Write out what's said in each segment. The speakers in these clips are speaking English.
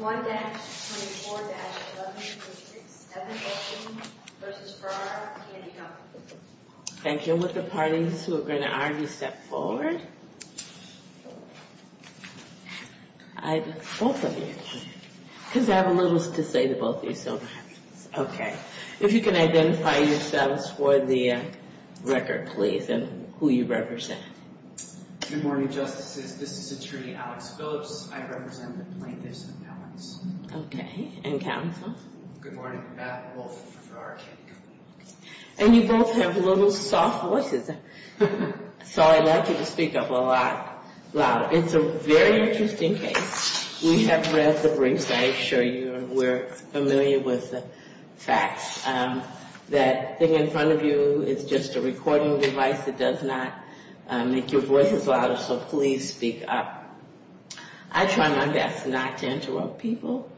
1-24-11, District 7, Olson v. Ferrara Candy Co. Thank you. With the parties who are going to argue, step forward. I, both of you, because I have a little to say to both of you, so okay. If you can identify yourselves for the record, please, and who you represent. Good morning, Justices. This is Alex Phillips. I represent the plaintiffs' appellants. Okay, and counsel. Good morning, Beth Wolf, Ferrara Candy Co. And you both have little soft voices, so I'd like you to speak up a lot louder. It's a very interesting case. We have read the briefs. I assure you we're familiar with the facts. That thing in front of you is just a recording device. It does not make your voices louder, so please speak up. I try my best not to interrupt people,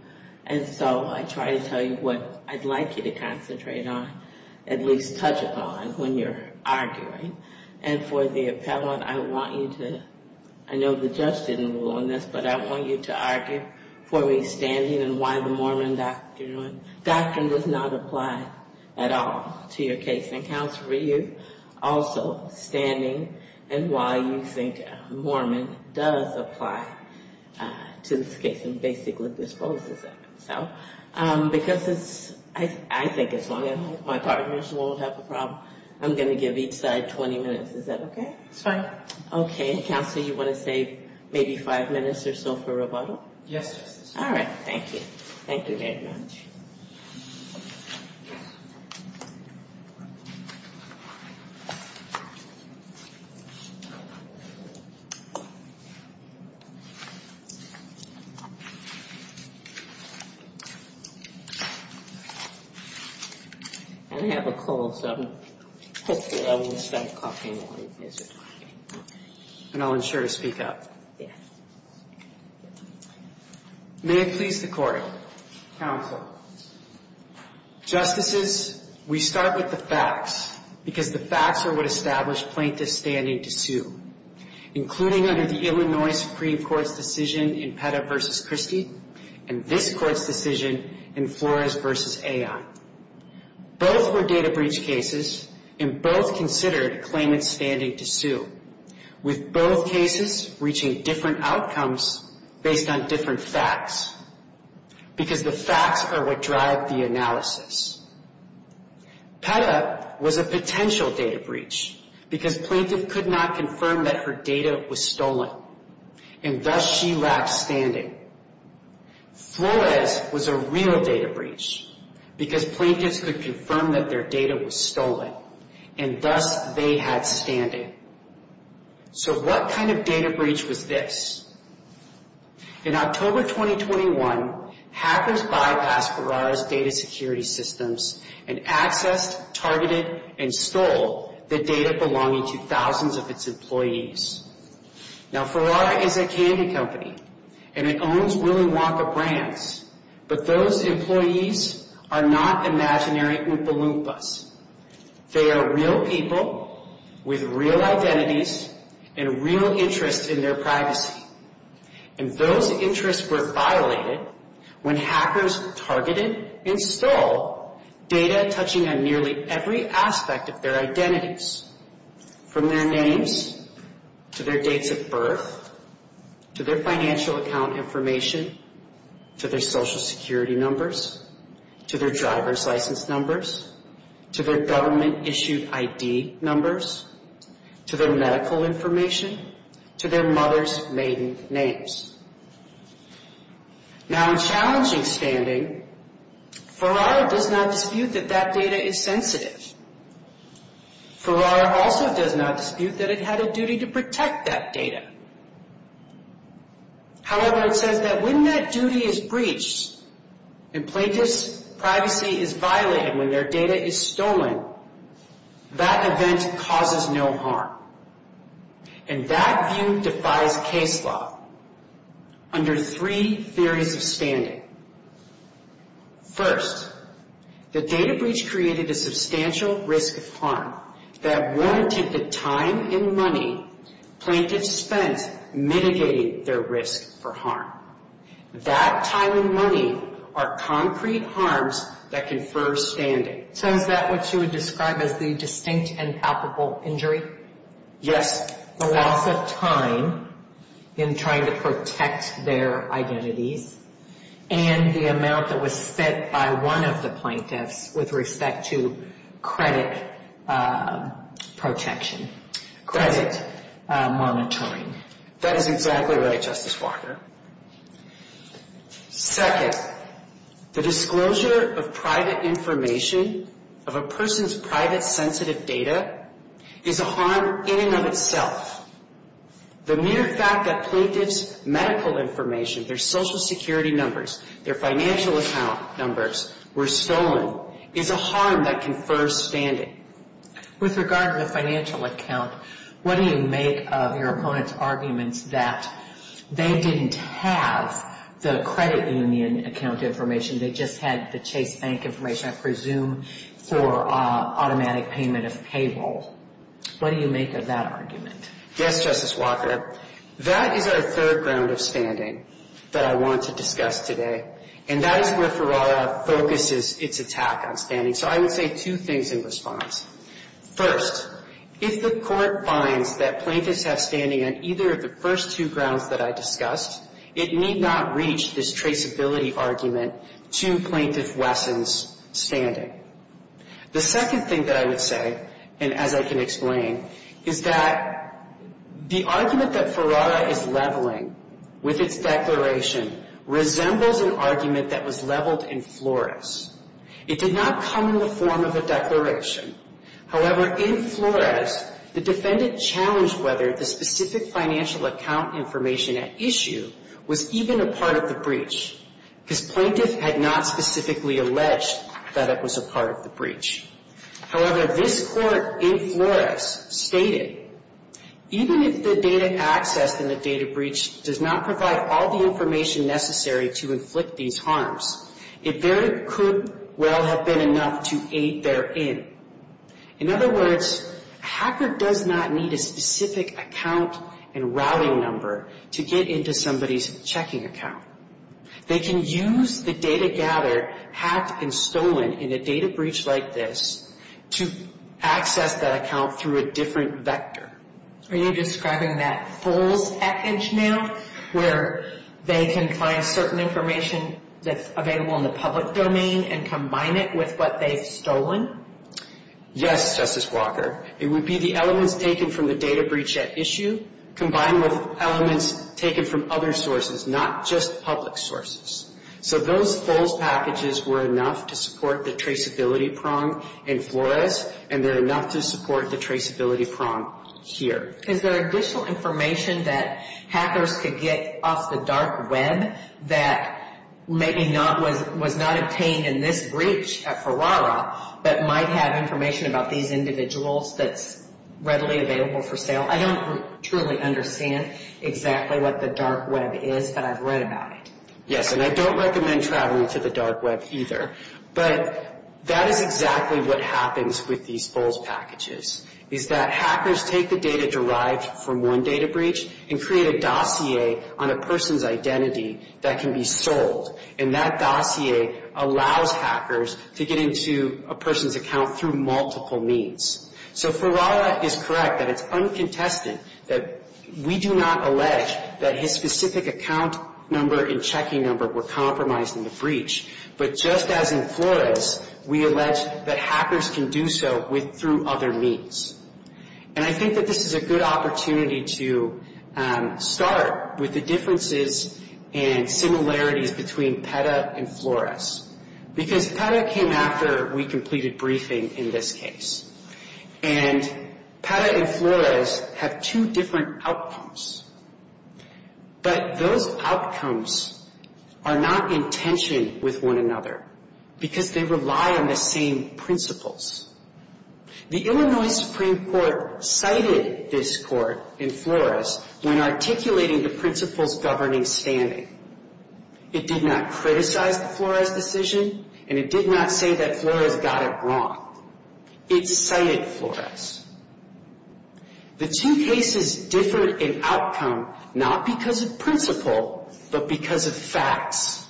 and so I try to tell you what I'd like you to concentrate on, at least touch upon, when you're arguing. And for the appellant, I want you to, I know the judge didn't rule on this, but I want you to argue for me standing and why the Mormon doctrine does not apply at all to your case. And, counsel, for you, also, standing and why you think Mormon does apply to this case and basically disposes of itself. Because it's, I think as long as my partners won't have a problem, I'm going to give each side 20 minutes. Is that okay? It's fine. Okay, and counsel, you want to save maybe five minutes or so for rebuttal? Yes, Justice. All right, thank you. Thank you very much. I have a call, so hopefully I won't start coughing. And I'll ensure to speak up. Yes. May it please the court. Counsel. Justices, we start with the facts because the facts are what established plaintiff's standing to sue, including under the Illinois Supreme Court's decision in Petta v. Christie and this court's decision in Flores v. Aion. Both were data breach cases and both considered claimant's standing to sue with both cases reaching different outcomes based on different facts because the facts are what drive the analysis. Petta was a potential data breach because plaintiff could not confirm that her data was stolen and thus she lacked standing. Flores was a real data breach because plaintiffs could confirm that their data was stolen and thus they had standing. So what kind of data breach was this? In October 2021, hackers bypassed Ferrara's data security systems and accessed, targeted, and stole the data belonging to thousands of its employees. Now, Ferrara is a candy company and it owns Willy Wonka Brands, but those employees are not imaginary Oompa Loompas. They are real people with real identities and real interests in their privacy. And those interests were violated when hackers targeted and stole data touching on nearly every aspect of their identities from their names, to their dates of birth, to their financial account information, to their social security numbers, to their driver's license numbers, to their government issued ID numbers, to their medical information, to their mother's names. Now, in challenging standing, Ferrara does not dispute that that data is sensitive. Ferrara also does not dispute that it had a duty to protect that data. However, it says that when that duty is breached and plaintiff's privacy is violated, when their data is stolen, that event causes no harm. And that view defies case law under three theories of standing. First, the data breach created a substantial risk of harm that warranted the time and money plaintiffs spent mitigating their risk for harm. That time and money are concrete harms that confer standing. So is that what you would describe as the distinct and palpable injury? Yes. The loss of time in trying to protect their identities and the amount that was spent by one of the plaintiffs with respect to credit protection, credit monitoring. That is exactly right, Justice Walker. Second, the disclosure of private information, of a person's private sensitive data, is a harm in and of itself. The mere fact that plaintiff's medical information, their social security numbers, their financial account numbers were stolen, is a harm that confers standing. With regard to the financial account, what do you make of your opponent's arguments that they didn't have the credit union account information, they just had the Chase Bank information, I presume for automatic payment of payroll? What do you make of that argument? Yes, Justice Walker. That is our third ground of standing that I want to discuss today. And that is where Ferrara focuses its attack on standing. So I would say two things in response. First, if the court finds that plaintiffs have standing on either of the first two grounds that I discussed, it need not reach this traceability argument to plaintiff Wesson's standing. The second thing that I would say, and as I can explain, is that the argument that Ferrara is leveling with its declaration resembles an argument that was leveled in Flores. It did not come in the form of a declaration. However, in Flores, the defendant challenged whether the specific financial account information at issue was even a part of the breach, because plaintiff had not specifically alleged that it was a part of the breach. However, this court in Flores stated, even if the data accessed in the data breach does not provide all the information necessary to inflict these harms, it very could well have been enough to aid therein. In other words, a hacker does not need a specific account and routing number to get into somebody's checking account. They can use the data gathered, hacked, and stolen in a data breach like this to access that account through a different vector. Are you describing that F.O.L.S. package now, where they can find certain information that's available in the public domain and combine it with what they've stolen? Yes, Justice Walker. It would be the elements taken from the data breach at issue combined with elements taken from other sources, not just public sources. So those F.O.L.S. packages were enough to support the traceability prong in Flores, and they're enough to support the traceability prong here. Is there additional information that hackers could get off the dark web that maybe was not obtained in this breach at Ferrara, but might have information about these individuals that's readily available for sale? I don't truly understand exactly what the dark web is, but I've read about it. Yes, and I don't recommend traveling to the dark web either. But that is exactly what happens with these F.O.L.S. packages, is that hackers take the data derived from one data breach and create a dossier on a person's identity that can be sold. And that dossier allows hackers to get into a person's account through multiple means. So Ferrara is correct that it's uncontested that we do not allege that his specific account number and checking number were compromised in the breach. But just as in Flores, we allege that hackers can do so through other means. And I think that this is a good opportunity to start with the differences and similarities between PETA and Flores. Because PETA came after we completed briefing in this case. And PETA and Flores have two different outcomes. But those outcomes are not in tension with one another, because they rely on the same principles. The Illinois Supreme Court cited this court in Flores when articulating the principles governing standing. It did not criticize the Flores decision, and it did not say that Flores got it wrong. It cited Flores. The two cases differed in outcome, not because of principle, but because of facts.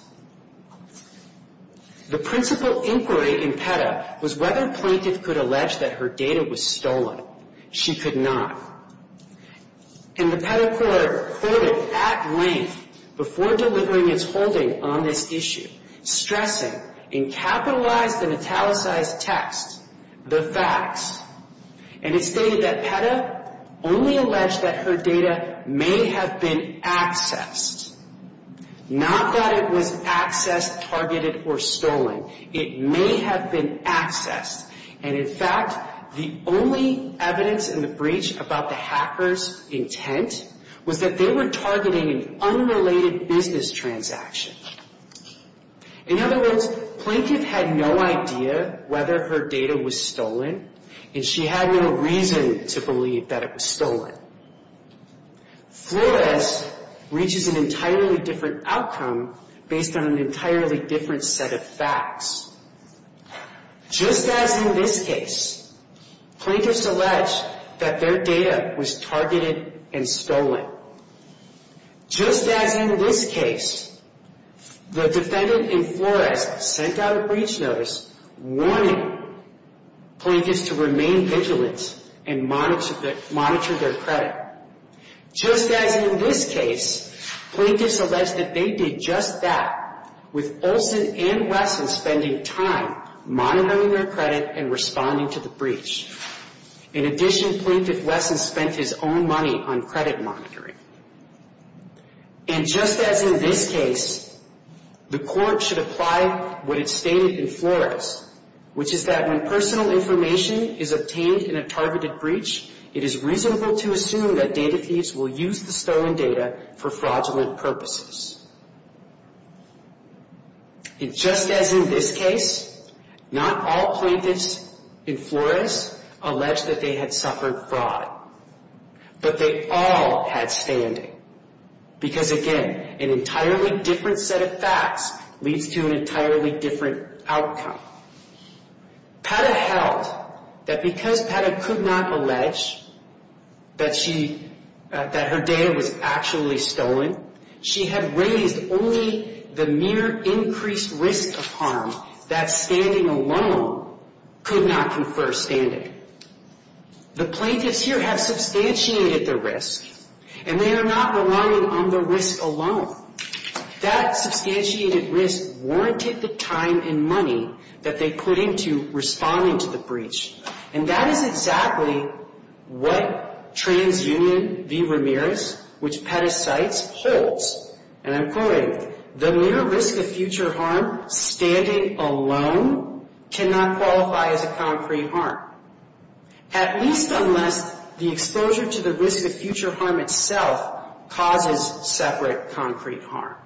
The principle inquiry in PETA was whether a plaintiff could allege that her data was stolen. She could not. And the PETA court quoted at length before delivering its holding on this issue, stressing in capitalized and italicized text, the facts. And it stated that PETA only alleged that her data may have been accessed. Not that it was accessed, targeted, or stolen. It may have been accessed. And in fact, the only evidence in the breach about the hacker's intent was that they were targeting an unrelated business transaction. In other words, plaintiff had no idea whether her data was stolen, and she had no reason to believe that it was stolen. Flores reaches an entirely different outcome based on an entirely different set of facts. Just as in this case, plaintiffs allege that their data was targeted and stolen. Just as in this case, the defendant in Flores sent out a breach notice warning plaintiffs to remain vigilant and monitor their credit. Just as in this case, plaintiffs allege that they did just that with Olson and Wesson spending time monitoring their credit and responding to the breach. In addition, plaintiff Wesson spent his own money on credit monitoring. And just as in this case, the court should apply what it stated in Flores, which is that when personal information is obtained in a targeted breach, it is reasonable to assume that data thieves will use the stolen data for fraudulent purposes. And just as in this case, not all plaintiffs in Flores allege that they had suffered fraud, but they all had standing. Because again, an entirely different set of facts leads to an entirely different outcome. PETA held that because PETA could not allege that her data was actually stolen, she had raised only the mere increased risk of harm that standing alone could not confer standing. The plaintiffs here have substantiated the risk, and they are not relying on the risk alone. That substantiated risk warranted the time and money that they put into responding to the breach. And that is exactly what TransUnion v. Ramirez, which PETA cites, holds. And I'm quoting, the mere risk of future harm standing alone cannot qualify as a concrete harm, at least unless the exposure to the risk of future harm itself causes separate concrete harm.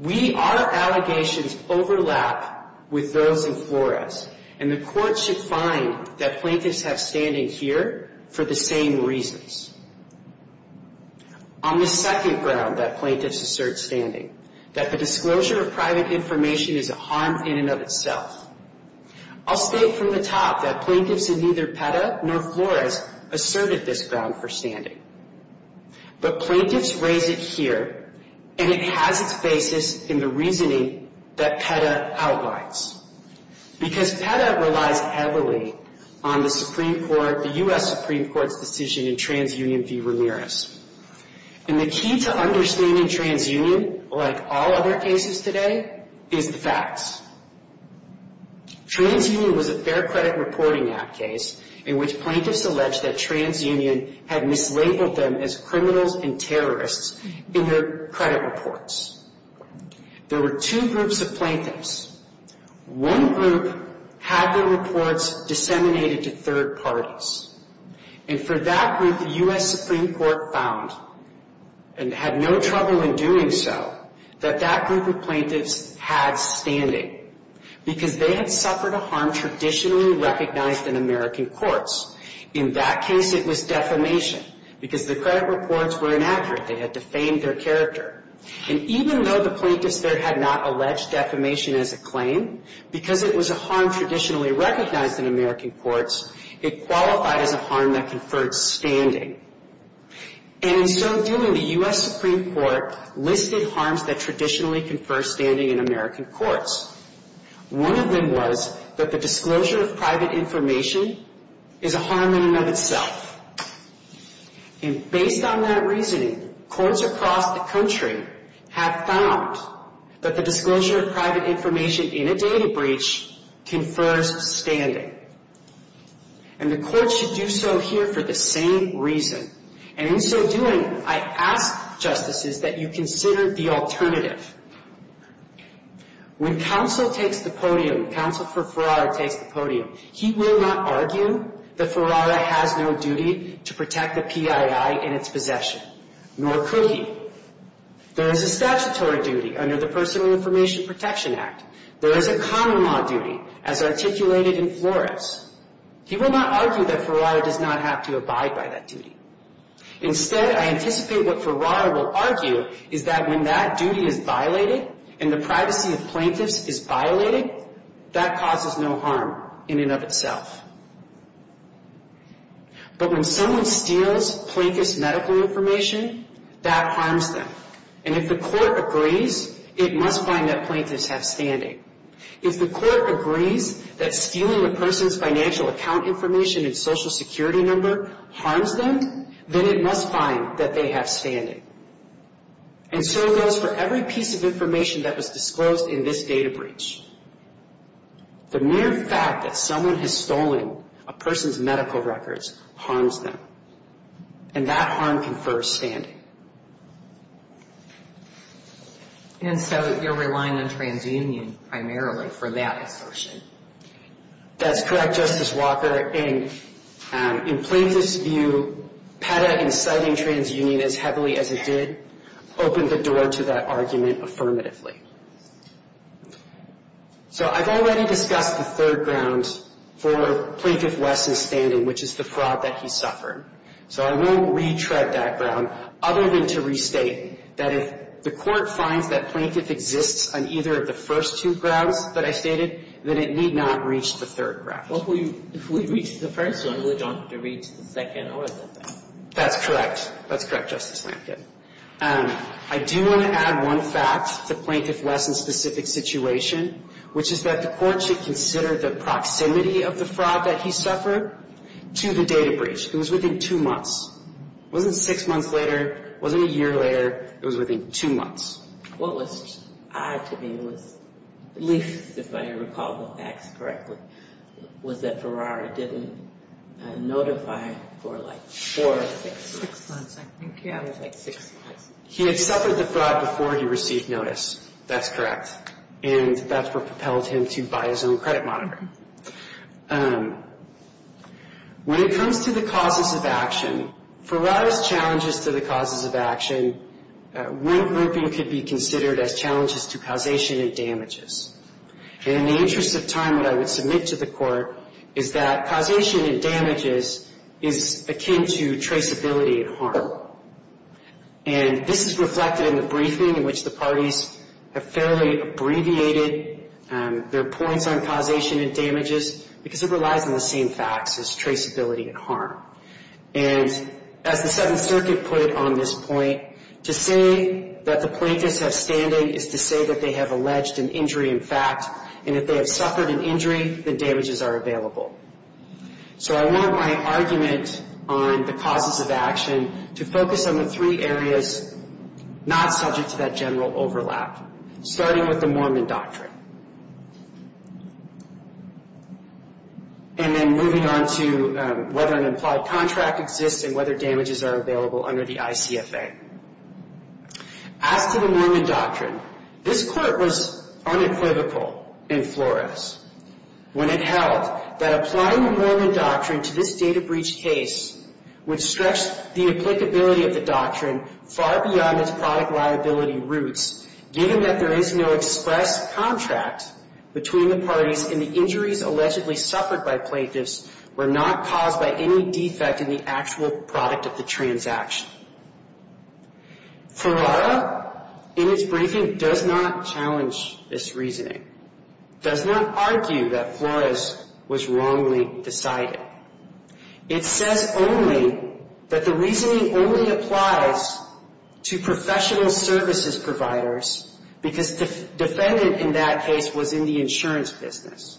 We, our allegations overlap with those in Flores, and the Court should find that plaintiffs have standing here for the same reasons. On the second ground that plaintiffs assert standing, that the disclosure of private information is a harm in and of itself. I'll state from the top that plaintiffs in neither PETA nor Flores asserted this ground for standing. But plaintiffs raise it here, and it has its basis in the reasoning that PETA outlines. Because PETA relies heavily on the Supreme Court, the U.S. Supreme Court's decision in TransUnion v. Ramirez. And the key to understanding TransUnion, like all other cases today, is the facts. TransUnion was a Fair Credit Reporting Act case in which plaintiffs alleged that TransUnion had mislabeled them as criminals and terrorists in their credit reports. There were two groups of plaintiffs. One group had their reports disseminated to third parties. And for that group, the U.S. Supreme Court found, and had no trouble in doing so, that that group of plaintiffs had standing. Because they had suffered a harm traditionally recognized in American courts. In that case, it was defamation. Because the credit reports were inaccurate, they had defamed their character. And even though the plaintiffs there had not alleged defamation as a claim, because it was a harm traditionally recognized in American courts, it qualified as a harm that conferred standing. And in so doing, the U.S. Supreme Court listed harms that traditionally confer standing in American courts. One of them was that the disclosure of private information is a harm in and of itself. And based on that reasoning, courts across the country have found that the disclosure of private information in a data breach confers standing. And the courts should do so here for the same reason. And in so doing, I ask justices that you consider the alternative. When counsel takes the podium, counsel for Ferrara takes the podium, he will not argue that Ferrara has no duty to protect the PII in its possession. Nor could he. There is a statutory duty under the Personal Information Protection Act. There is a common law duty, as articulated in Flores. He will not argue that Ferrara does not have to abide by that duty. Instead, I anticipate what Ferrara will argue is that when that duty is violated, and the privacy of plaintiffs is violated, that causes no harm in and of itself. But when someone steals plaintiff's medical information, that harms them. And if the court agrees, it must find that plaintiffs have standing. If the court agrees that stealing a person's financial account information and social security number harms them, then it must find that they have standing. And so does for every piece of information that was disclosed in this data breach. The mere fact that someone has stolen a person's medical records harms them. And that harm confers standing. And so you're relying on TransUnion primarily for that assertion? That's correct, Justice Walker. And in plaintiff's view, PEDA inciting TransUnion as heavily as it did opened the door to that argument affirmatively. So I've already discussed the third ground for Plaintiff West's standing, which is the fraud that he suffered. So I won't retread that ground, other than to restate that if the court finds that plaintiff exists on either of the first two that I stated, then it need not reach the third ground. Well, if we reach the first one, we don't have to reach the second or the third. That's correct. That's correct, Justice Lankford. I do want to add one fact to Plaintiff West's specific situation, which is that the court should consider the proximity of the fraud that he suffered to the data breach. It was within two months. It wasn't six months later. It wasn't a year later. It was within two months. What was odd to me was at least if I recall the facts correctly, was that Ferrari didn't notify for like four or six months. He had suffered the fraud before he received notice. That's correct. And that's what propelled him to buy his own credit monitor. When it comes to the causes of action, Ferrari's challenges to the causes of action, regrouping could be considered as challenges to causation and damages. And in the interest of time, what I would submit to the court is that causation and damages is akin to traceability and harm. And this is reflected in the briefing in which the parties have fairly abbreviated their points on causation and damages because it relies on the same facts as traceability and harm. And as the Seventh Circuit put on this point, to say that the plaintiffs have standing is to say that they have alleged an injury in fact and that they have suffered an injury, the damages are available. So I want my argument on the causes of action to focus on the three areas not subject to that general overlap, starting with the Mormon doctrine. And then moving on to whether an implied contract exists and whether damages are available under the ICFA. As to the Mormon doctrine, this court was unequivocal in Flores when it held that applying the Mormon doctrine to this data breach case would stretch the applicability of the doctrine far beyond its product liability roots, given that there is no express contract between the parties and the injuries allegedly suffered by plaintiffs were not caused by any defect in the actual product of the transaction. Ferrara, in its briefing, does not challenge this reasoning, does not argue that Flores was wrongly decided. It says only that the reasoning only applies to professional services providers because the defendant in that case was in the insurance business.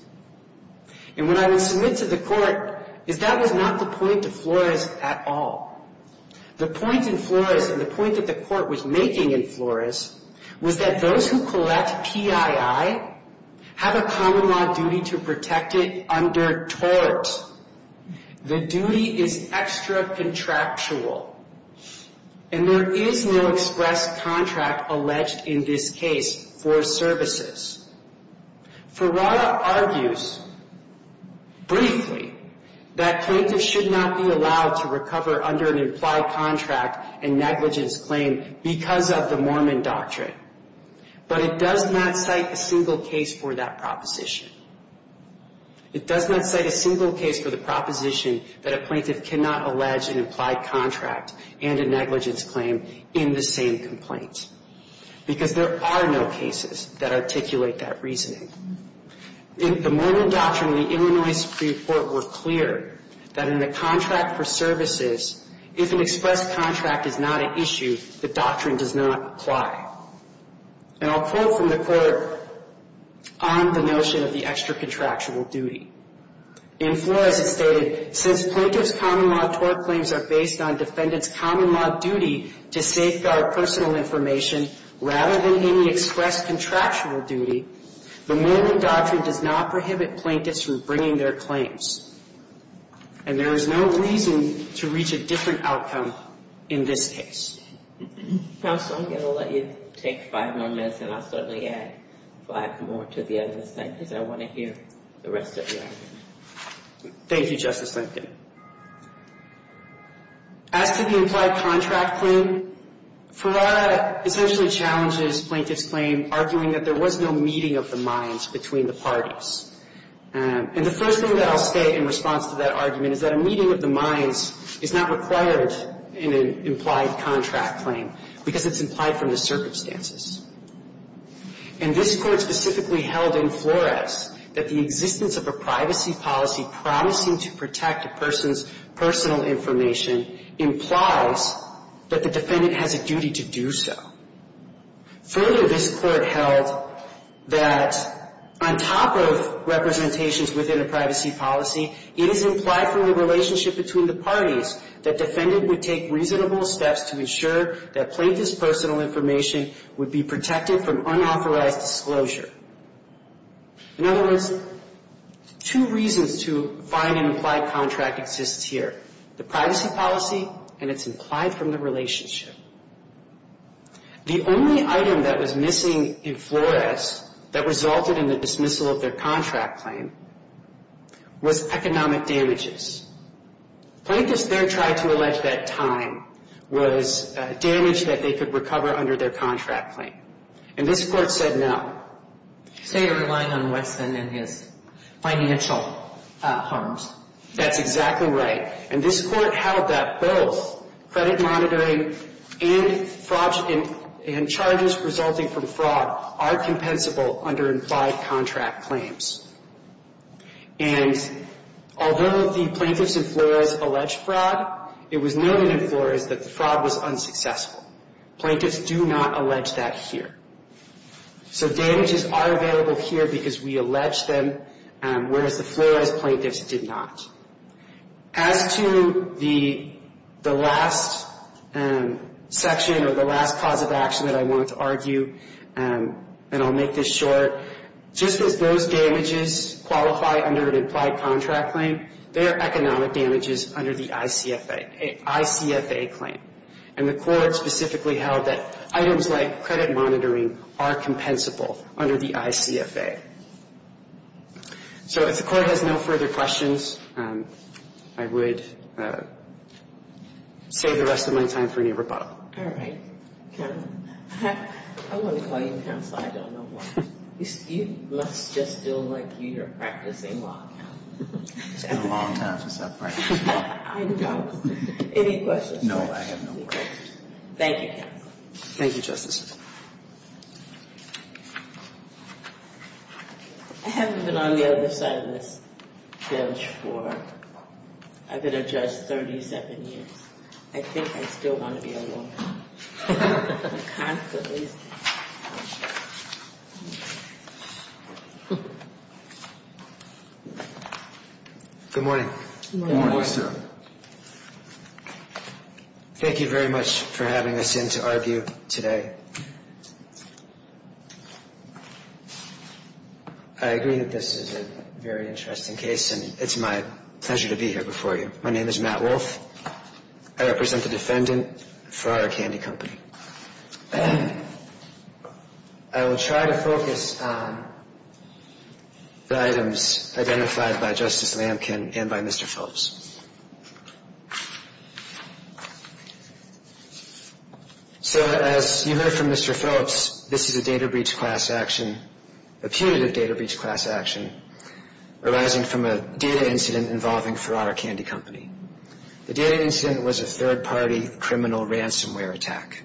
And what I would submit to the court is that was not the point of Flores at all. The point in Flores and the point that the court was making in Flores was that those who collect PII have a common law duty to protect it under tort. The duty is extra contractual, and there is no express contract alleged in this case for services. Ferrara argues briefly that plaintiffs should not be allowed to recover under an implied contract and negligence claim because of the Mormon doctrine, but it does not cite a single case for that proposition. It does not cite a single case for the proposition that a plaintiff cannot allege an implied contract and a negligence claim in the same complaint, because there are no cases that articulate that reasoning. In the Mormon doctrine, the Illinois Supreme Court were clear that in the contract for services, if an express contract is not an issue, the doctrine does not apply. And I'll quote from the court on the notion of the extra contractual duty. In Flores, it stated, since plaintiff's common law tort claims are based on defendant's common law duty to safeguard personal information rather than any express contractual duty, the Mormon doctrine does not prohibit plaintiffs from bringing their claims. And there is no reason to reach a different outcome in this case. Counsel, I'm going to let you take five more minutes, and I'll certainly add five more to the other sentence. I want to hear the rest of your argument. Thank you, Justice Lincoln. As to the implied contract claim, Ferrara essentially challenges plaintiff's claim, arguing that there was no meeting of the minds between the parties. And the first thing that I'll state in response to that argument is that a meeting of the minds is not required in an implied contract claim, because it's implied from the circumstances. And this Court specifically held in Flores that the existence of a privacy policy promising to protect a person's personal information implies that the defendant has a duty to do so. Further, this Court held that on top of representations within a privacy policy, it is implied from the relationship between the parties that defendant would take reasonable steps to ensure that plaintiff's personal information would be protected from unauthorized disclosure. In other words, two reasons to find an implied contract exist here, the privacy policy and it's implied from the relationship. The only item that was missing in Flores that resulted in the dismissal of their contract claim was economic damages. Plaintiffs there tried to allege that time was damage that they could recover under their contract claim. And this Court said no. So you're relying on Weston and his financial harms. That's exactly right. And this Court held that both credit monitoring and fraud and charges resulting from fraud are compensable under implied contract claims. And although the plaintiffs in Flores alleged fraud, it was known in Flores that the fraud was unsuccessful. Plaintiffs do not allege that here. So damages are available here because we allege them, whereas the Flores plaintiffs did not. As to the last section or the last cause of action that I want to argue, and I'll make this short, just as those damages qualify under an implied contract claim, there are economic damages under the ICFA claim. And the Court held that items like credit monitoring are compensable under the ICFA. So if the Court has no further questions, I would save the rest of my time for any rebuttal. Thank you, counsel. Thank you, Justice. I haven't been on the other side of this bilge for, I've been a judge 37 years. I think I still want to be a lawyer, constantly. Good morning. Good morning. Thank you very much for having us in to argue today. I agree that this is a very interesting case, and it's my pleasure to be here before you. My name is Matt Wolfe. I represent the defendant, Farrar Candy Company. I will try to focus on the items identified by Justice Lamkin and by Mr. Phillips. So as you heard from Mr. Phillips, this is a data breach class action, a putative data breach class action, arising from a data incident involving Farrar Candy Company. The data incident was a third-party criminal ransomware attack.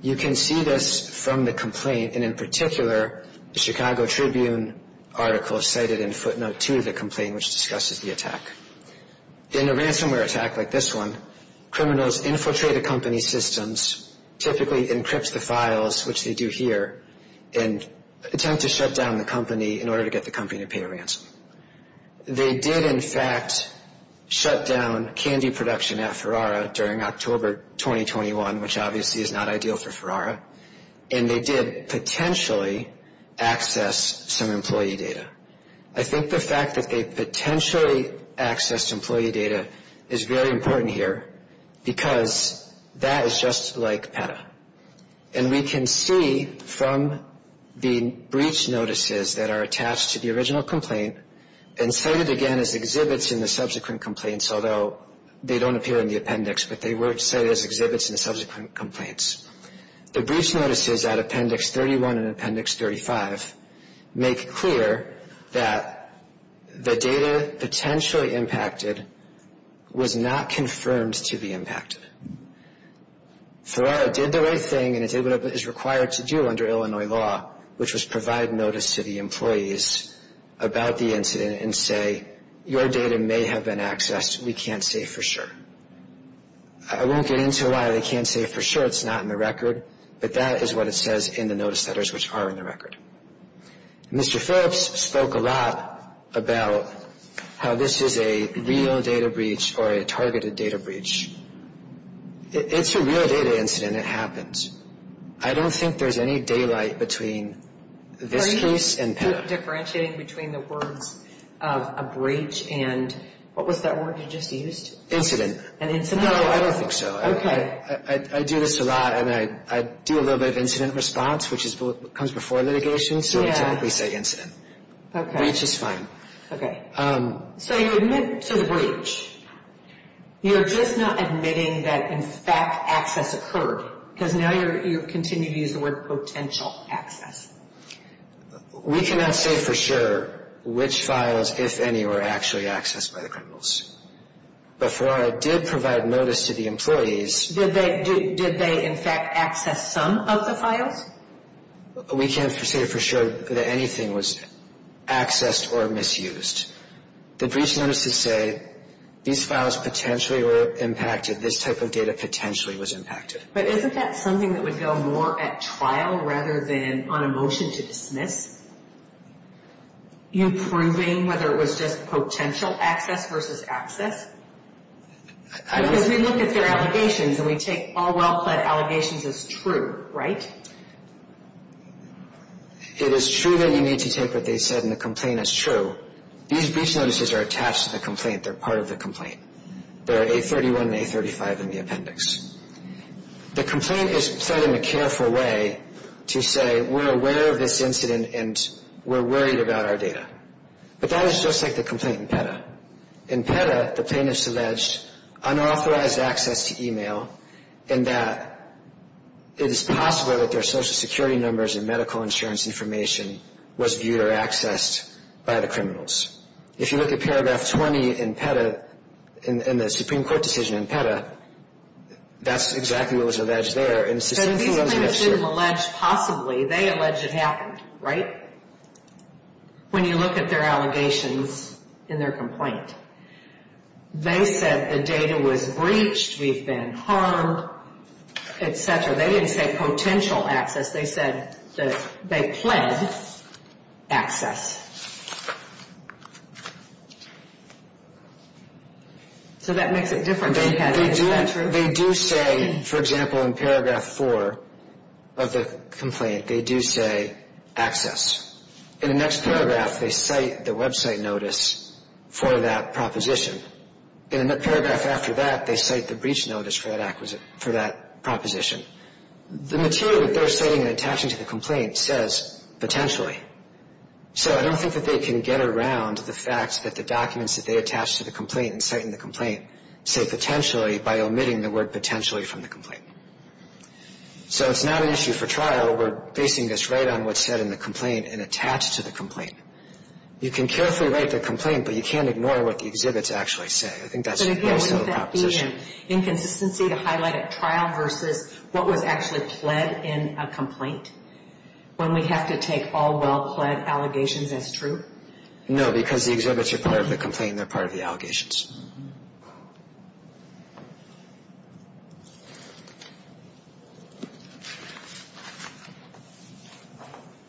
You can see this from the complaint, and in particular, the Chicago Tribune article cited in footnote 2 of the complaint, which discusses the attack. In a ransomware attack like this one, criminals infiltrate a company's systems, typically encrypt the files, which they do here, and attempt to shut down the company in order to get the company to pay a ransom. They did, in fact, shut down candy production at Farrara during October 2021, which obviously is not ideal for Farrara, and they did potentially access some employee data. I think the fact that they potentially accessed employee data is very important here, because that is just like PETA. And we can see from the breach notices that are attached to the original complaint, and cited again as exhibits in the subsequent complaints, although they don't appear in the appendix, but they were cited as exhibits in the subsequent complaints. The breach notices at appendix 31 and appendix 35 make clear that the data potentially impacted was not confirmed to be impacted. Farrara did the right thing, and it did what is required to do under Illinois law, which was provide notice to the employees about the incident and say, your data may have been accessed, we can't say for sure. I won't get into why they can't say for sure, it's not in the record, but that is what it says in the notice letters, which are in the record. Mr. Phillips spoke a lot about how this is a real data breach or a targeted data breach. It's a real data incident, it happens. I don't think there's any daylight between this case and PETA. Are you differentiating between the words of a breach and what was that word you just used? Incident. An incident? No, I don't think so. I do this a lot, and I do a little bit of incident response, which comes before litigation, so we typically say incident. Breach is fine. So you admit to the breach, you're just not admitting that in fact access occurred, because now you continue to use the word potential access. We cannot say for sure which files, if any, were actually accessed by the criminals. Before I did provide notice to the employees... Did they in fact access some of the files? We can't say for sure that anything was accessed or misused. The breach notices say these files potentially were impacted, this type of data potentially was impacted. But isn't that something that would go more at trial rather than on a motion to dismiss? Are you proving whether it was just potential access versus access? Because we look at their allegations and we take all well-pled allegations as true, right? It is true that you need to take what they said in the complaint as true. These breach notices are attached to the complaint, they're part of the complaint. They're A31 and A35 in the appendix. The complaint is pled in a careful way to say we're aware of this incident and we're worried about our data. But that is just like the complaint in PETA. In PETA, the plaintiffs alleged unauthorized access to email and that it is possible that their social security numbers and medical insurance information was viewed or accessed by the criminals. If you look at paragraph 20 in PETA, in the Supreme Court decision in PETA, that's exactly what was alleged there. These plaintiffs didn't allege possibly, they alleged it happened, right? When you look at their allegations in their complaint, they said the data was breached, we've been harmed, etc. They didn't say potential access, they said that they pled access. So that makes it different than PETA, is that true? They do say, for example, in paragraph 4 of the complaint, they do say access. In the next paragraph, they cite the website notice for that proposition. In the paragraph after that, they cite the breach notice for that proposition. The material that they're citing and attaching to the complaint says potentially. So I don't think that they can get around the fact that the documents that they attach to the complaint and cite in the complaint say potentially by omitting the word potentially from the complaint. So it's not an issue for trial. We're basing this right on what's said in the complaint and attached to the complaint. You can carefully write the complaint, but you can't ignore what the exhibits actually say. I think that's the basis of the proposition. But again, would that be an inconsistency to highlight a trial versus what was actually pled in a complaint, when we have to take all well-pled allegations as true? No, because the exhibits are part of the complaint and they're part of the allegations.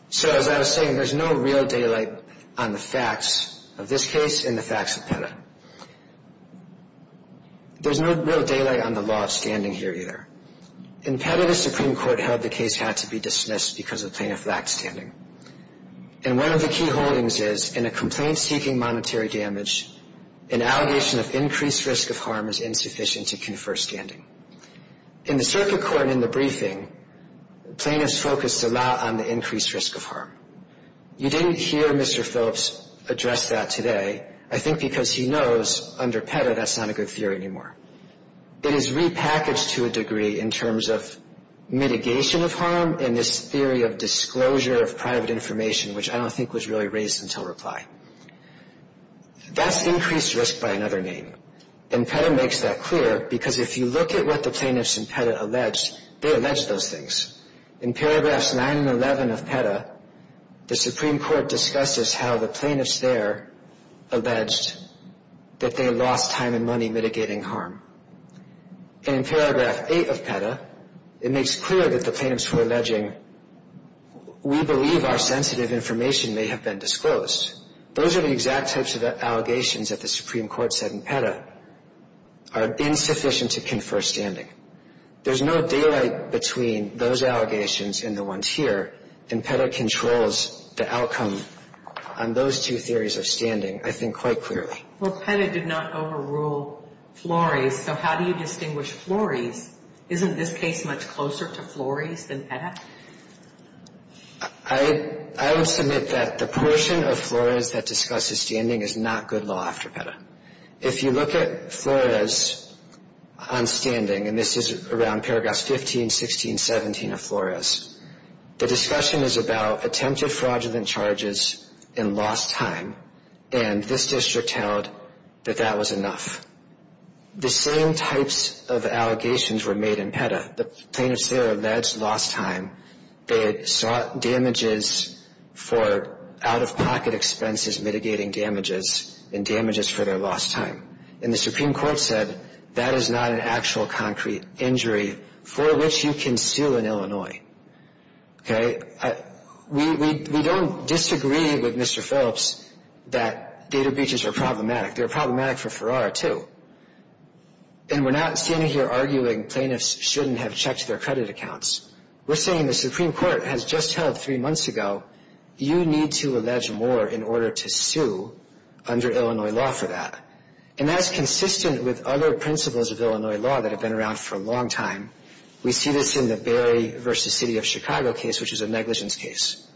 So as I was saying, there's no real daylight on the facts of this case and the facts of PETA. There's no real daylight on the law of standing here either. In PETA, the Supreme Court held the case had to be dismissed because of plaintiff lackstanding. And one of the key holdings is in a complaint seeking monetary damage, an allegation of increased risk of harm is insufficient to confer standing. In the circuit court in the briefing, plaintiffs focused a lot on the increased risk of harm. You didn't hear Mr. Phillips address that today. I think because he knows under PETA, that's not a good theory anymore. It is repackaged to a degree in terms of mitigation of harm and this theory of disclosure of private information, which I don't think was really raised until reply. That's increased risk by another name. And PETA makes that clear because if you look at what the plaintiffs in PETA alleged, they allege those things. In paragraphs 9 and 11 of PETA, the Supreme Court discusses how the plaintiffs there alleged that they lost time and money mitigating harm. And in paragraph 8 of PETA, it makes clear that the plaintiffs were alleging, we believe our sensitive information may have been disclosed. Those are the exact types of allegations that the Supreme Court said in PETA are insufficient to confer standing. There's no daylight between those allegations and the ones here. And PETA controls the outcome on those two theories of standing, I think, quite clearly. Well, PETA did not overrule Flores. So how do you distinguish Flores? Isn't this case much closer to Flores than PETA? I would submit that the portion of Flores that discusses standing is not good law after PETA. If you look at Flores on standing, and this is around paragraphs 15, 16, 17 of Flores, the discussion is about attempted fraudulent charges and lost time. And this district held that that was enough. The same types of allegations were made in PETA. The plaintiffs there alleged lost time. They had sought damages for out-of-pocket expenses mitigating damages, and damages for their lost time. And the Supreme Court said that is not an actual concrete injury for which you can sue in Illinois. Okay, we don't disagree with Mr. Phillips that data breaches are problematic. They're problematic for Farrar, too. And we're not standing here arguing plaintiffs shouldn't have checked their credit accounts. We're saying the Supreme Court has just held three months ago, you need to allege more in order to sue under Illinois law for that. And that's consistent with other principles of Illinois law that have been around for a long time. We see this in the Barry v. City of Chicago case, which is a negligence case.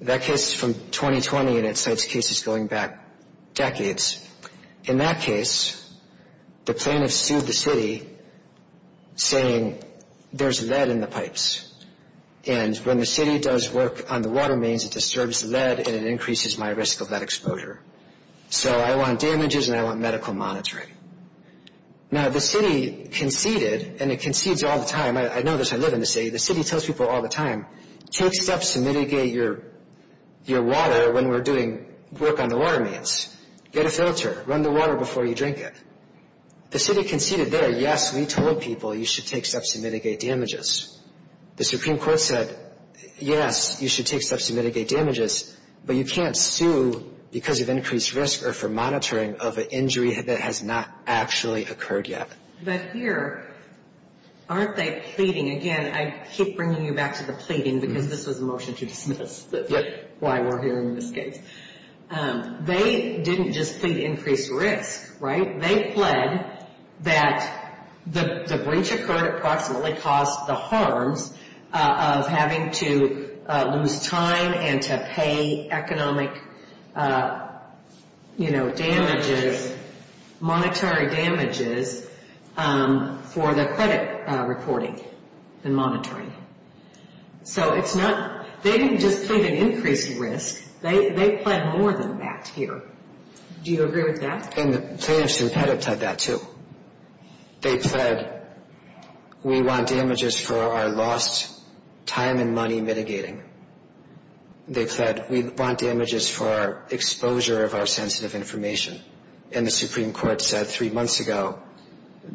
That case is from 2020, and it cites cases going back decades. In that case, the plaintiffs sued the city saying there's lead in the pipes. And when the city does work on the water mains, it disturbs lead and it increases my risk of lead exposure. So I want damages and I want medical monitoring. Now, the city conceded, and it concedes all the time. I know this, I live in the city. The city tells people all the time, take steps to mitigate your water when we're doing work on the water mains. Get a filter, run the water before you drink it. The city conceded there, yes, we told people you should take steps to mitigate damages. The Supreme Court said, yes, you should take steps to mitigate damages. But you can't sue because of increased risk or for monitoring of an injury that has not actually occurred yet. But here, aren't they pleading? Again, I keep bringing you back to the pleading, because this was a motion to dismiss why we're hearing this case. They didn't just plead increased risk, right? They pled that the breach occurred approximately caused the harms of having to lose time and to pay economic, you know, damages, monetary damages for the credit reporting and monitoring. So it's not, they didn't just plead an increased risk. They pled more than that here. Do you agree with that? And the plaintiffs in Pettit pled that too. They pled, we want damages for our lost time and money mitigating. They pled, we want damages for our exposure of our sensitive information. And the Supreme Court said three months ago,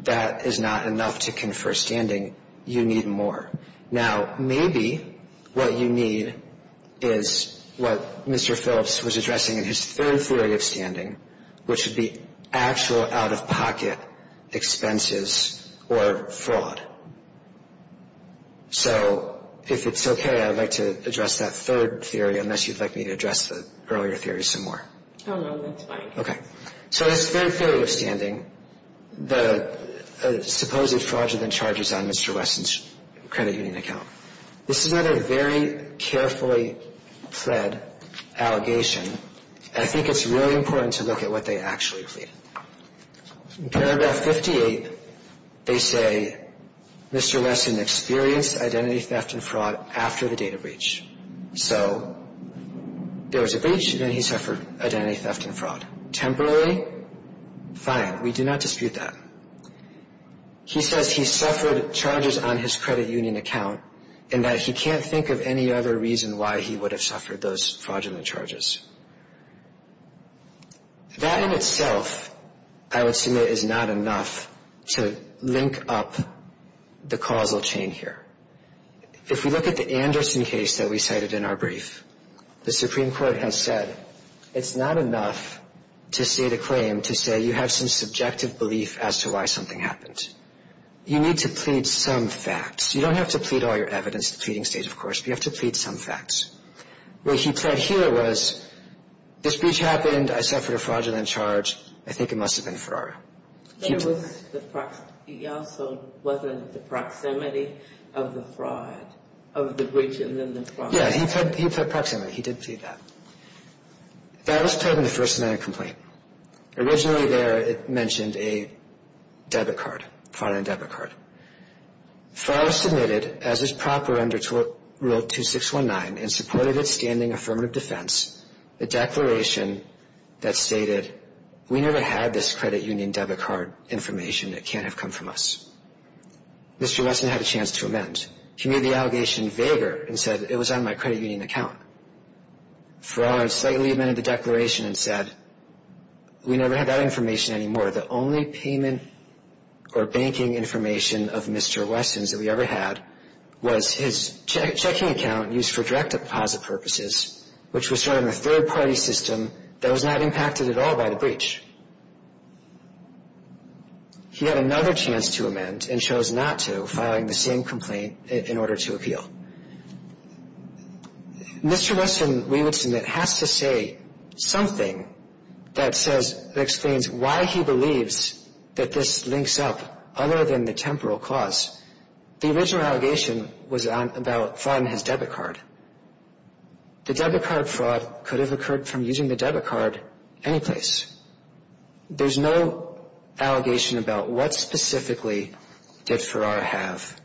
that is not enough to confer standing. You need more. Now, maybe what you need is what Mr. Phillips was addressing in his third theory of standing, which would be actual out-of-pocket expenses or fraud. So if it's okay, I'd like to address that third theory, unless you'd like me to address the earlier theory some more. Oh, no, that's fine. Okay. So his third theory of standing, the supposed fraudulent charges on Mr. Wesson's credit union account. This is another very carefully pled allegation. I think it's really important to look at what they actually plead. In paragraph 58, they say, Mr. Wesson experienced identity theft and fraud after the data breach. So there was a breach, then he suffered identity theft and fraud. Temporarily, fine. We do not dispute that. He says he suffered charges on his credit union account, and that he can't think of any other reason why he would have suffered those fraudulent charges. That in itself, I would submit is not enough to link up the causal chain here. If we look at the Anderson case that we cited in our brief, the Supreme Court has said it's not enough to state a claim to say you have some subjective belief as to why something happened. You need to plead some facts. You don't have to plead all your evidence at the pleading stage, of course, but you have to plead some facts. What he pled here was, this breach happened, I suffered a fraudulent charge, I think it must have been fraud. He also wasn't at the proximity of the fraud, of the breach and then the fraud. Yeah, he pled proximity. He did plead that. That was pled in the first scenario complaint. Originally there, it mentioned a debit card, fraudulent debit card. Fraud was submitted as is proper under rule 2619 and supported its standing affirmative defense. The declaration that stated, we never had this credit union debit card information, it can't have come from us. Mr. Westman had a chance to amend. He made the allegation vaguer and said, it was on my credit union account. Fraud slightly amended the declaration and said, we never had that information anymore. The only payment or banking information of Mr. Westman's that we ever had was his checking account used for direct deposit purposes, which was sort of a third party system that was not impacted at all by the breach. He had another chance to amend and chose not to, filing the same complaint in order to appeal. Mr. Westman, we would submit, has to say something that explains why he believes that this links up other than the temporal cause. The original allegation was about fraud in his debit card. The debit card fraud could have occurred from using the debit card anyplace. There's no allegation about what specifically did Farrar have.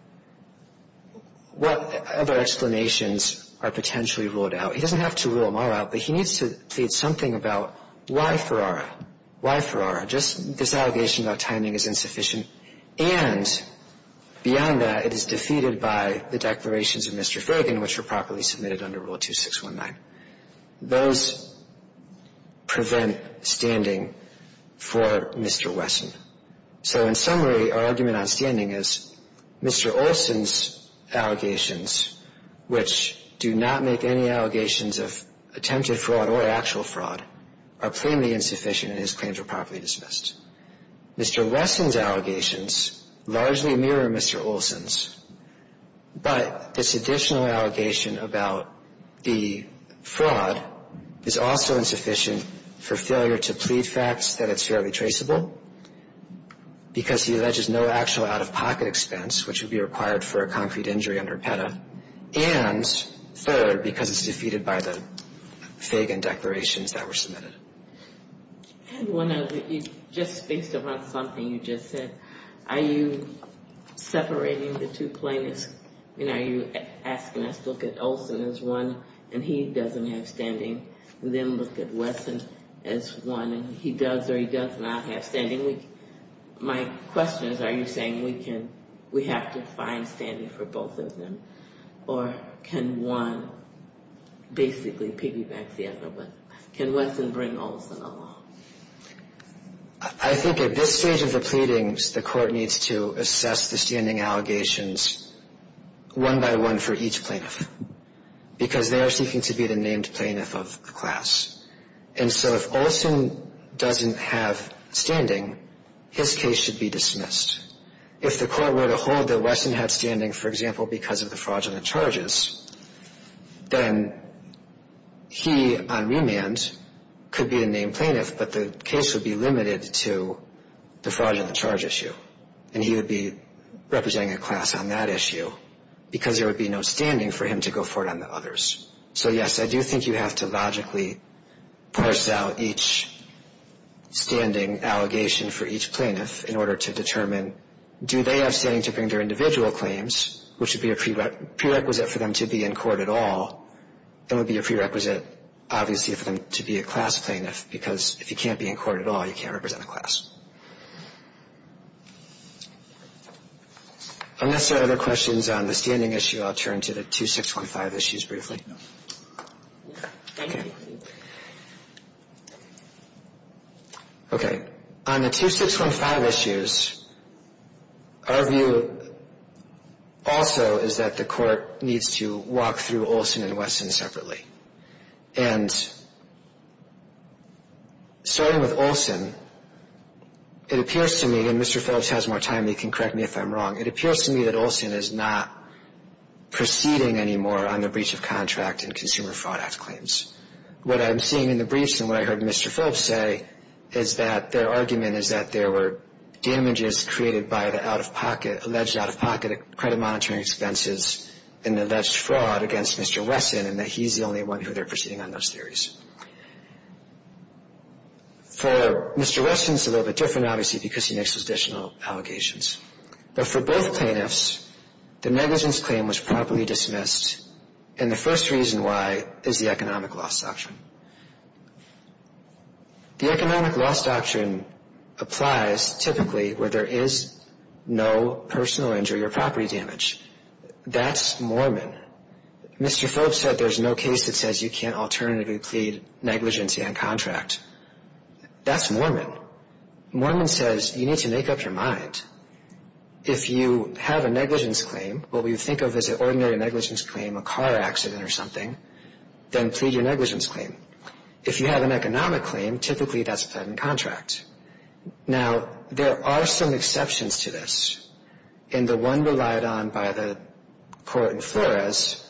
What other explanations are potentially ruled out? He doesn't have to rule them all out, but he needs to plead something about why Farrar? Why Farrar? Just this allegation about timing is insufficient. And beyond that, it is defeated by the declarations of Mr. Fragon, which were properly submitted under Rule 2619. Those prevent standing for Mr. Westman. So in summary, our argument on standing is Mr. Olson's allegations, which do not make any allegations of attempted fraud or actual fraud, are plainly insufficient, and his claims were properly dismissed. Mr. Westman's allegations largely mirror Mr. Olson's, but this additional allegation about the fraud is also insufficient for failure to plead facts that it's fairly traceable, because he alleges no actual out-of-pocket expense, which would be required for a concrete injury under PETA, and third, because it's defeated by the Fragon declarations that were submitted. I have one other. You just spaced them on something you just said. Are you separating the two plaintiffs? I mean, are you asking us to look at Olson as one, and he doesn't have standing, and then look at Westman as one, and he does or he does not have standing? My question is, are you saying we have to find standing for both of them, or can one basically piggyback the other? Can Westman bring Olson along? I think at this stage of the pleadings, the court needs to assess the standing allegations one by one for each plaintiff, because they are seeking to be the named plaintiff of the class. And so if Olson doesn't have standing, his case should be dismissed. If the court were to hold that Westman had standing, for example, because of the fraudulent charges, then he on remand could be the named plaintiff, but the case would be limited to the fraudulent charge issue, and he would be representing a class on that issue, because there would be no standing for him to go forward on the others. So yes, I do think you have to logically parse out each standing allegation for each plaintiff in order to determine, do they have standing to bring their individual claims, which would be a prerequisite for them to be in court at all, that would be a prerequisite, obviously, for them to be a class plaintiff, because if you can't be in court at all, you can't represent a class. Unless there are other questions on the standing issue, I'll turn to the 2615 issues briefly. Okay, on the 2615 issues, our view also is that the court needs to walk through Olson and Weston separately. And starting with Olson, it appears to me, and Mr. Phillips has more time, he can correct me if I'm wrong, it appears to me that Olson is not proceeding anymore on the breach of contract and Consumer Fraud Act claims. What I'm seeing in the briefs and what I heard Mr. Phillips say is that their argument is that there were damages created by the out-of-pocket, alleged out-of-pocket credit monitoring expenses and alleged fraud against Mr. Weston, and that he's the only one who they're proceeding on those theories. For Mr. Weston, it's a little bit different, obviously, because he makes those additional allegations. But for both plaintiffs, the negligence claim was properly dismissed, and the first reason why is the economic loss doctrine. The economic loss doctrine applies typically where there is no personal injury or property damage. That's Mormon. Mr. Phillips said there's no case that says you can't alternatively plead negligence and contract. That's Mormon. Mormon says you need to make up your mind. If you have a negligence claim, what we think of as an ordinary negligence claim, a car accident or something, then plead your negligence claim. If you have an economic claim, typically that's a plead and contract. Now, there are some exceptions to this, and the one relied on by the court in Flores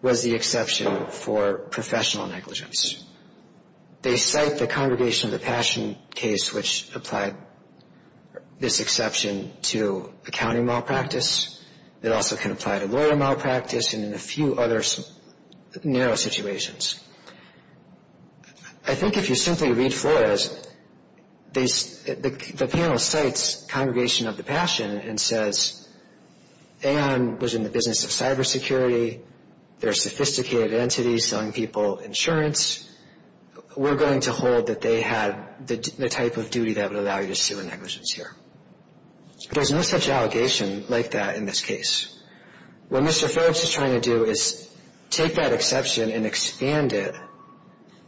was the exception for professional negligence. They cite the Congregation of the Passion case, which applied this exception to accounting malpractice. It also can apply to lawyer malpractice and in a few other narrow situations. I think if you simply read Flores, the panel cites Congregation of the Passion and says, Ann was in the business of cybersecurity. They're sophisticated entities selling people insurance. We're going to hold that they had the type of duty that would allow you to sue a negligence here. There's no such allegation like that in this case. What Mr. Forbes is trying to do is take that exception and expand it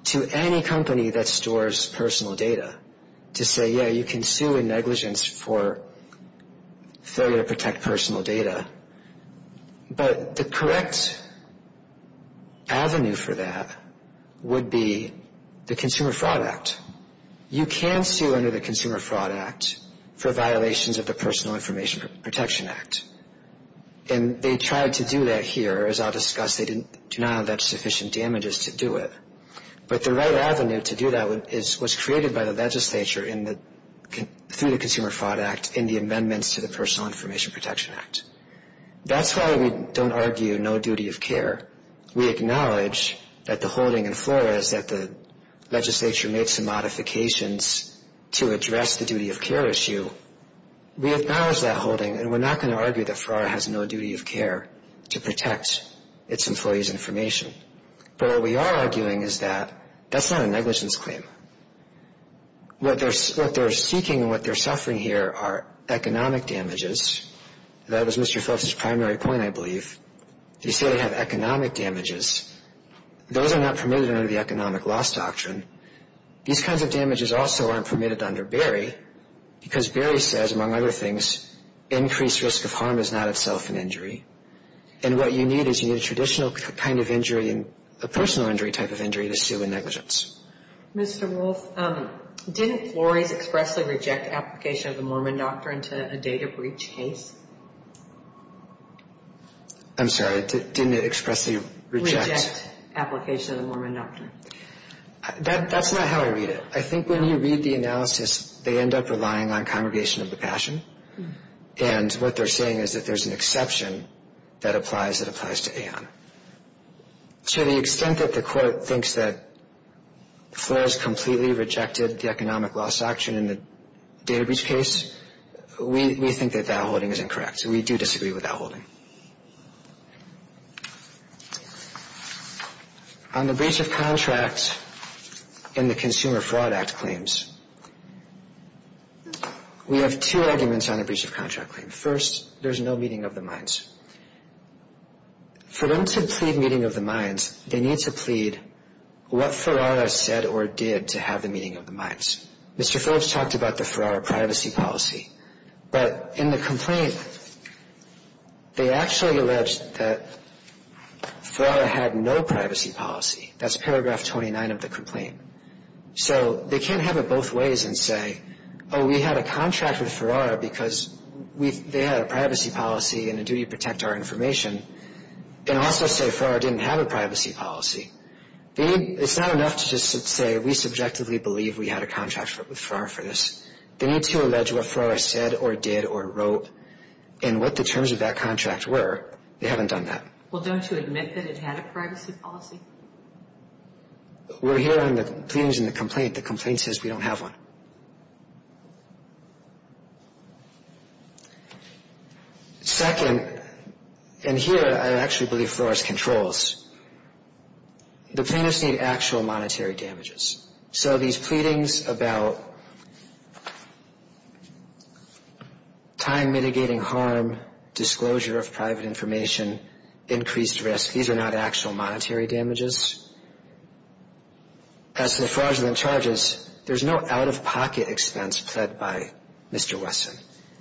to any company that stores personal data to say, yeah, you can sue a negligence for failure to protect personal data, but the correct avenue for that would be the Consumer Fraud Act. You can sue under the Consumer Fraud Act for violations of the Personal Information Protection Act, and they tried to do that here. As I'll discuss, they did not have that sufficient damages to do it, but the right avenue to do that is what's created by the legislature through the Consumer Fraud Act in the amendments to the Personal Information Protection Act. That's why we don't argue no duty of care. We acknowledge that the holding in FLORA is that the legislature made some modifications to address the duty of care issue. We acknowledge that holding, and we're not going to argue that FLORA has no duty of care to protect its employees' information, but what we are arguing is that that's not a negligence claim. What they're seeking and what they're suffering here are economic damages. That was Mr. Phelps's primary point, I believe. They say they have economic damages. Those are not permitted under the Economic Loss Doctrine. These kinds of damages also aren't permitted under Berry because Berry says, among other things, increased risk of harm is not itself an injury, and what you need is you need a traditional kind of injury, a personal injury type of injury to sue a negligence. Ms. DeWolf, didn't Flores expressly reject application of the Mormon Doctrine to a data breach case? I'm sorry. Didn't it expressly reject application of the Mormon Doctrine? That's not how I read it. I think when you read the analysis, they end up relying on congregation of the passion, and what they're saying is that there's an exception that applies to AON. To the extent that the court thinks that Flores completely rejected the Economic Loss Doctrine in the data breach case, we think that that holding is incorrect. We do disagree with that holding. On the breach of contract in the Consumer Fraud Act claims, we have two arguments on a breach of contract claim. First, there's no meeting of the minds. For them to plead meeting of the minds, they need to plead what Ferrara said or did to have the meeting of the minds. Mr. Phillips talked about the Ferrara privacy policy, but in the complaint, they actually alleged that Ferrara had no privacy policy. That's paragraph 29 of the complaint. So they can't have it both ways and say, oh, we had a contract with Ferrara because they had a privacy policy and a duty to protect our information, and also say Ferrara didn't have a privacy policy. It's not enough to just say we subjectively believe we had a contract with Ferrara for this. They need to allege what Ferrara said or did or wrote and what the terms of that contract were. They haven't done that. Well, don't you admit that it had a privacy policy? We're hearing the pleadings in the complaint. The complaint says we don't have one. Second, and here I actually believe Ferrara's controls, the plaintiffs need actual monetary damages. So these pleadings about time-mitigating harm, disclosure of private information, increased risk, these are not actual monetary damages. As for fraudulent charges, there's no out-of-pocket expense pled by Mr. Wesson.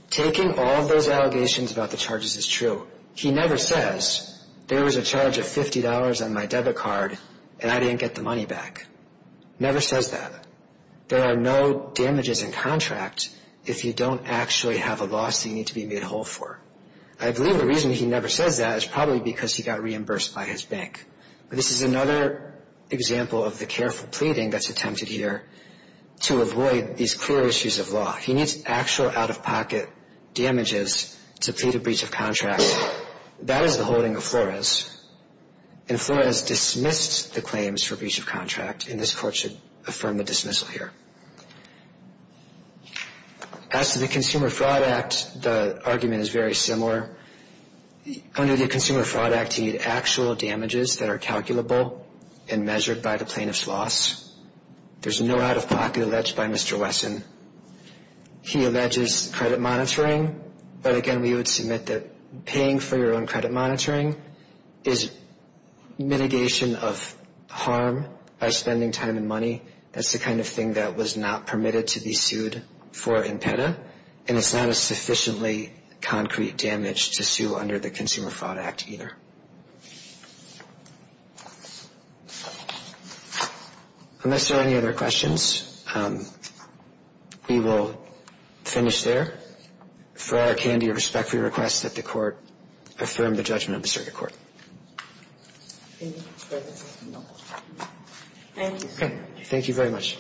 Taking all those allegations about the charges is true. He never says there was a charge of $50 on my debit card and I didn't get the money back. Never says that. There are no damages in contract if you don't actually have a loss that you need to be made whole for. I believe the reason he never says that is probably because he got reimbursed by his bank. But this is another example of the careful pleading that's attempted here to avoid these clear issues of law. He needs actual out-of-pocket damages to plead a breach of contract. That is the holding of Flores. And Flores dismissed the claims for breach of contract and this court should affirm the dismissal here. As to the Consumer Fraud Act, the argument is very similar. Under the Consumer Fraud Act, you need actual damages that are calculable and measured by the plaintiff's loss. There's no out-of-pocket alleged by Mr. Wesson. He alleges credit monitoring, but again, we would submit that paying for your own credit monitoring is mitigation of harm. By spending time and money, that's the kind of thing that was not permitted to be sued for in PETA. And it's not a sufficiently concrete damage to sue under the Consumer Fraud Act either. Unless there are any other questions, we will finish there. For our candy, I respectfully request that the court affirm the judgment of the circuit court. Thank you, sir. Thank you very much.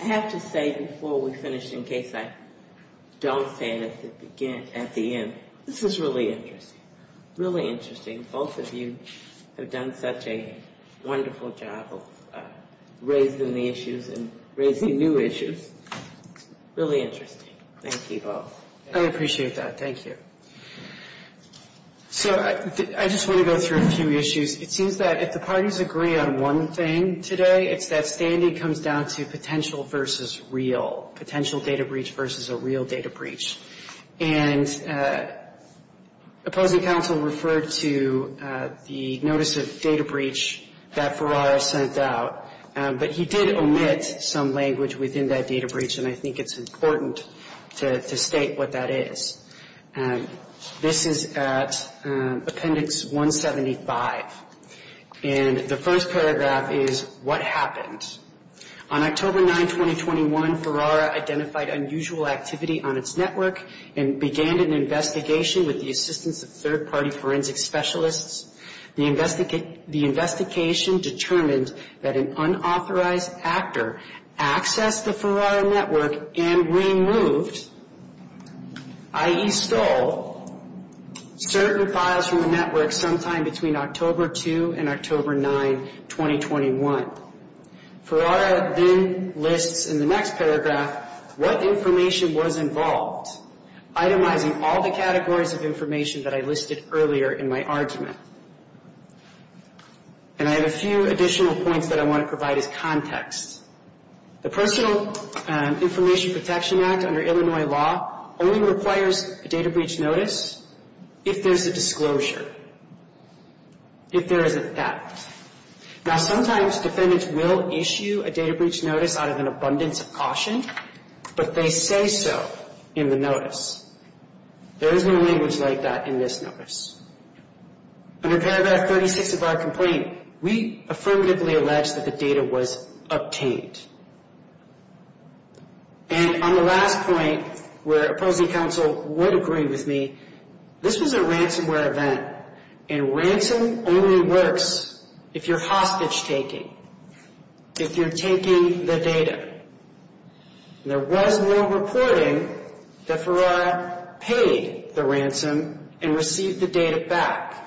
I have to say before we finish, in case I don't say it at the end, this is really interesting. Really interesting. Both of you have done such a wonderful job of raising the issues and raising new issues. Really interesting. Thank you both. I appreciate that. Thank you. So, I just want to go through a few issues. It seems that if the parties agree on one thing today, it's that standing comes down to potential versus real. Potential data breach versus a real data breach. And opposing counsel referred to the notice of data breach that Ferrari sent out, but he did omit some language within that data breach, and I think it's important to state what that is. And this is at Appendix 175. And the first paragraph is, what happened? On October 9, 2021, Ferrara identified unusual activity on its network and began an investigation with the assistance of third-party forensic specialists. The investigation determined that an unauthorized actor accessed the Ferrara network and removed i.e. stole certain files from the network sometime between October 2 and October 9, 2021. Ferrara then lists in the next paragraph what information was involved, itemizing all the categories of information that I listed earlier in my argument. And I have a few additional points that I want to provide as context. The Personal Information Protection Act under Illinois law only requires a data breach notice if there's a disclosure, if there is a theft. Now, sometimes defendants will issue a data breach notice out of an abundance of caution, but they say so in the notice. There is no language like that in this notice. Under paragraph 36 of our complaint, we affirmatively allege that the data was obtained. And on the last point, where opposing counsel would agree with me, this was a ransomware event, and ransom only works if you're hostage-taking, if you're taking the data. There was no reporting that Ferrara paid the ransom and received the data back.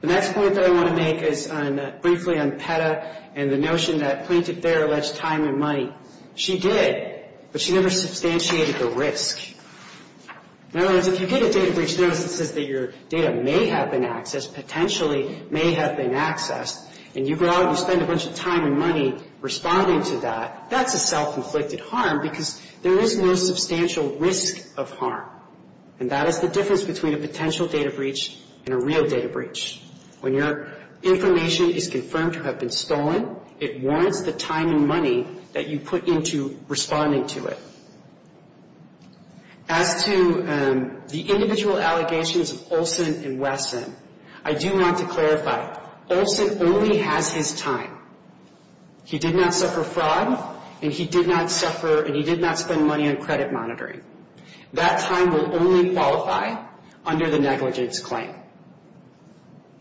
The next point that I want to make is briefly on PETA. And the notion that plaintiff there alleged time and money. She did, but she never substantiated the risk. In other words, if you get a data breach notice that says that your data may have been accessed, potentially may have been accessed, and you go out and spend a bunch of time and money responding to that, that's a self-inflicted harm because there is no substantial risk of harm. And that is the difference between a potential data breach and a real data breach. When your information is confirmed to have been stolen, it warrants the time and money that you put into responding to it. As to the individual allegations of Olson and Wesson, I do want to clarify, Olson only has his time. He did not suffer fraud, and he did not suffer, and he did not spend money on credit monitoring. That time will only qualify under the negligence claim.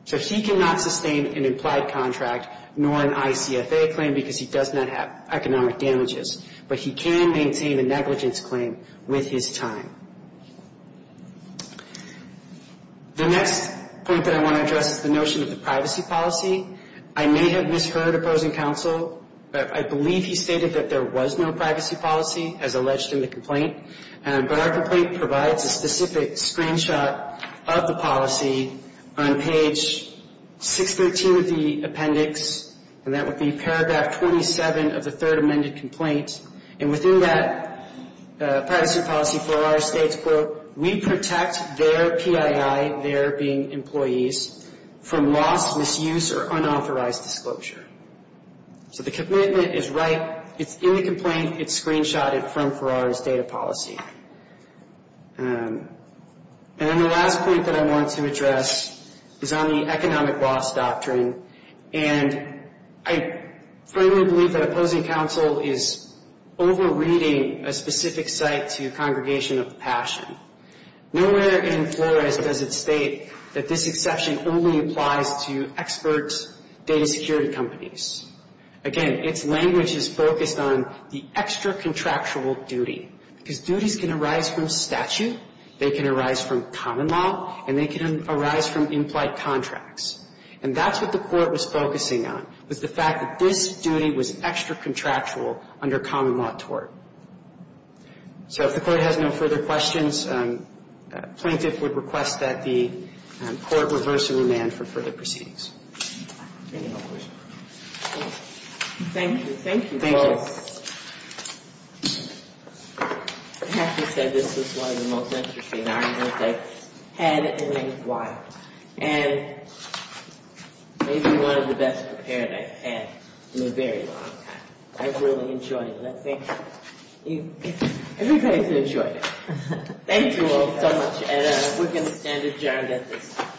So he cannot sustain an implied contract, nor an ICFA claim, because he does not have economic damages. But he can maintain a negligence claim with his time. The next point that I want to address is the notion of the privacy policy. I may have misheard opposing counsel, but I believe he stated that there was no privacy policy as alleged in the complaint. But our complaint provides a specific screenshot of the policy on page 613 of the appendix, and that would be paragraph 27 of the third amended complaint. And within that privacy policy, Ferrari states, we protect their PII, their being employees, from loss, misuse, or unauthorized disclosure. So the commitment is right. It's in the complaint. It's screenshotted from Ferrari's data policy. And then the last point that I want to address is on the economic loss doctrine. And I firmly believe that opposing counsel is over-reading a specific site to a congregation of passion. Nowhere in Flores does it state that this exception only applies to expert data security companies. Again, its language is focused on the extra-contractual duty, because duties of an employee can arise from statute, they can arise from common law, and they can arise from in-flight contracts. And that's what the Court was focusing on, was the fact that this duty was extra-contractual under common law tort. So if the Court has no further questions, plaintiff would request that the Court reverse the remand for further proceedings. Any other questions? MS. GOTTLIEB Thank you. Thank you, both. MR. GUTTLIEB I have to say, this is one of the most interesting arguments I've had in a while, and maybe one of the best prepared I've had in a very long time. I've really enjoyed it, and I think everybody's enjoyed it. Thank you all so much, and we're going to stand adjourned at this time.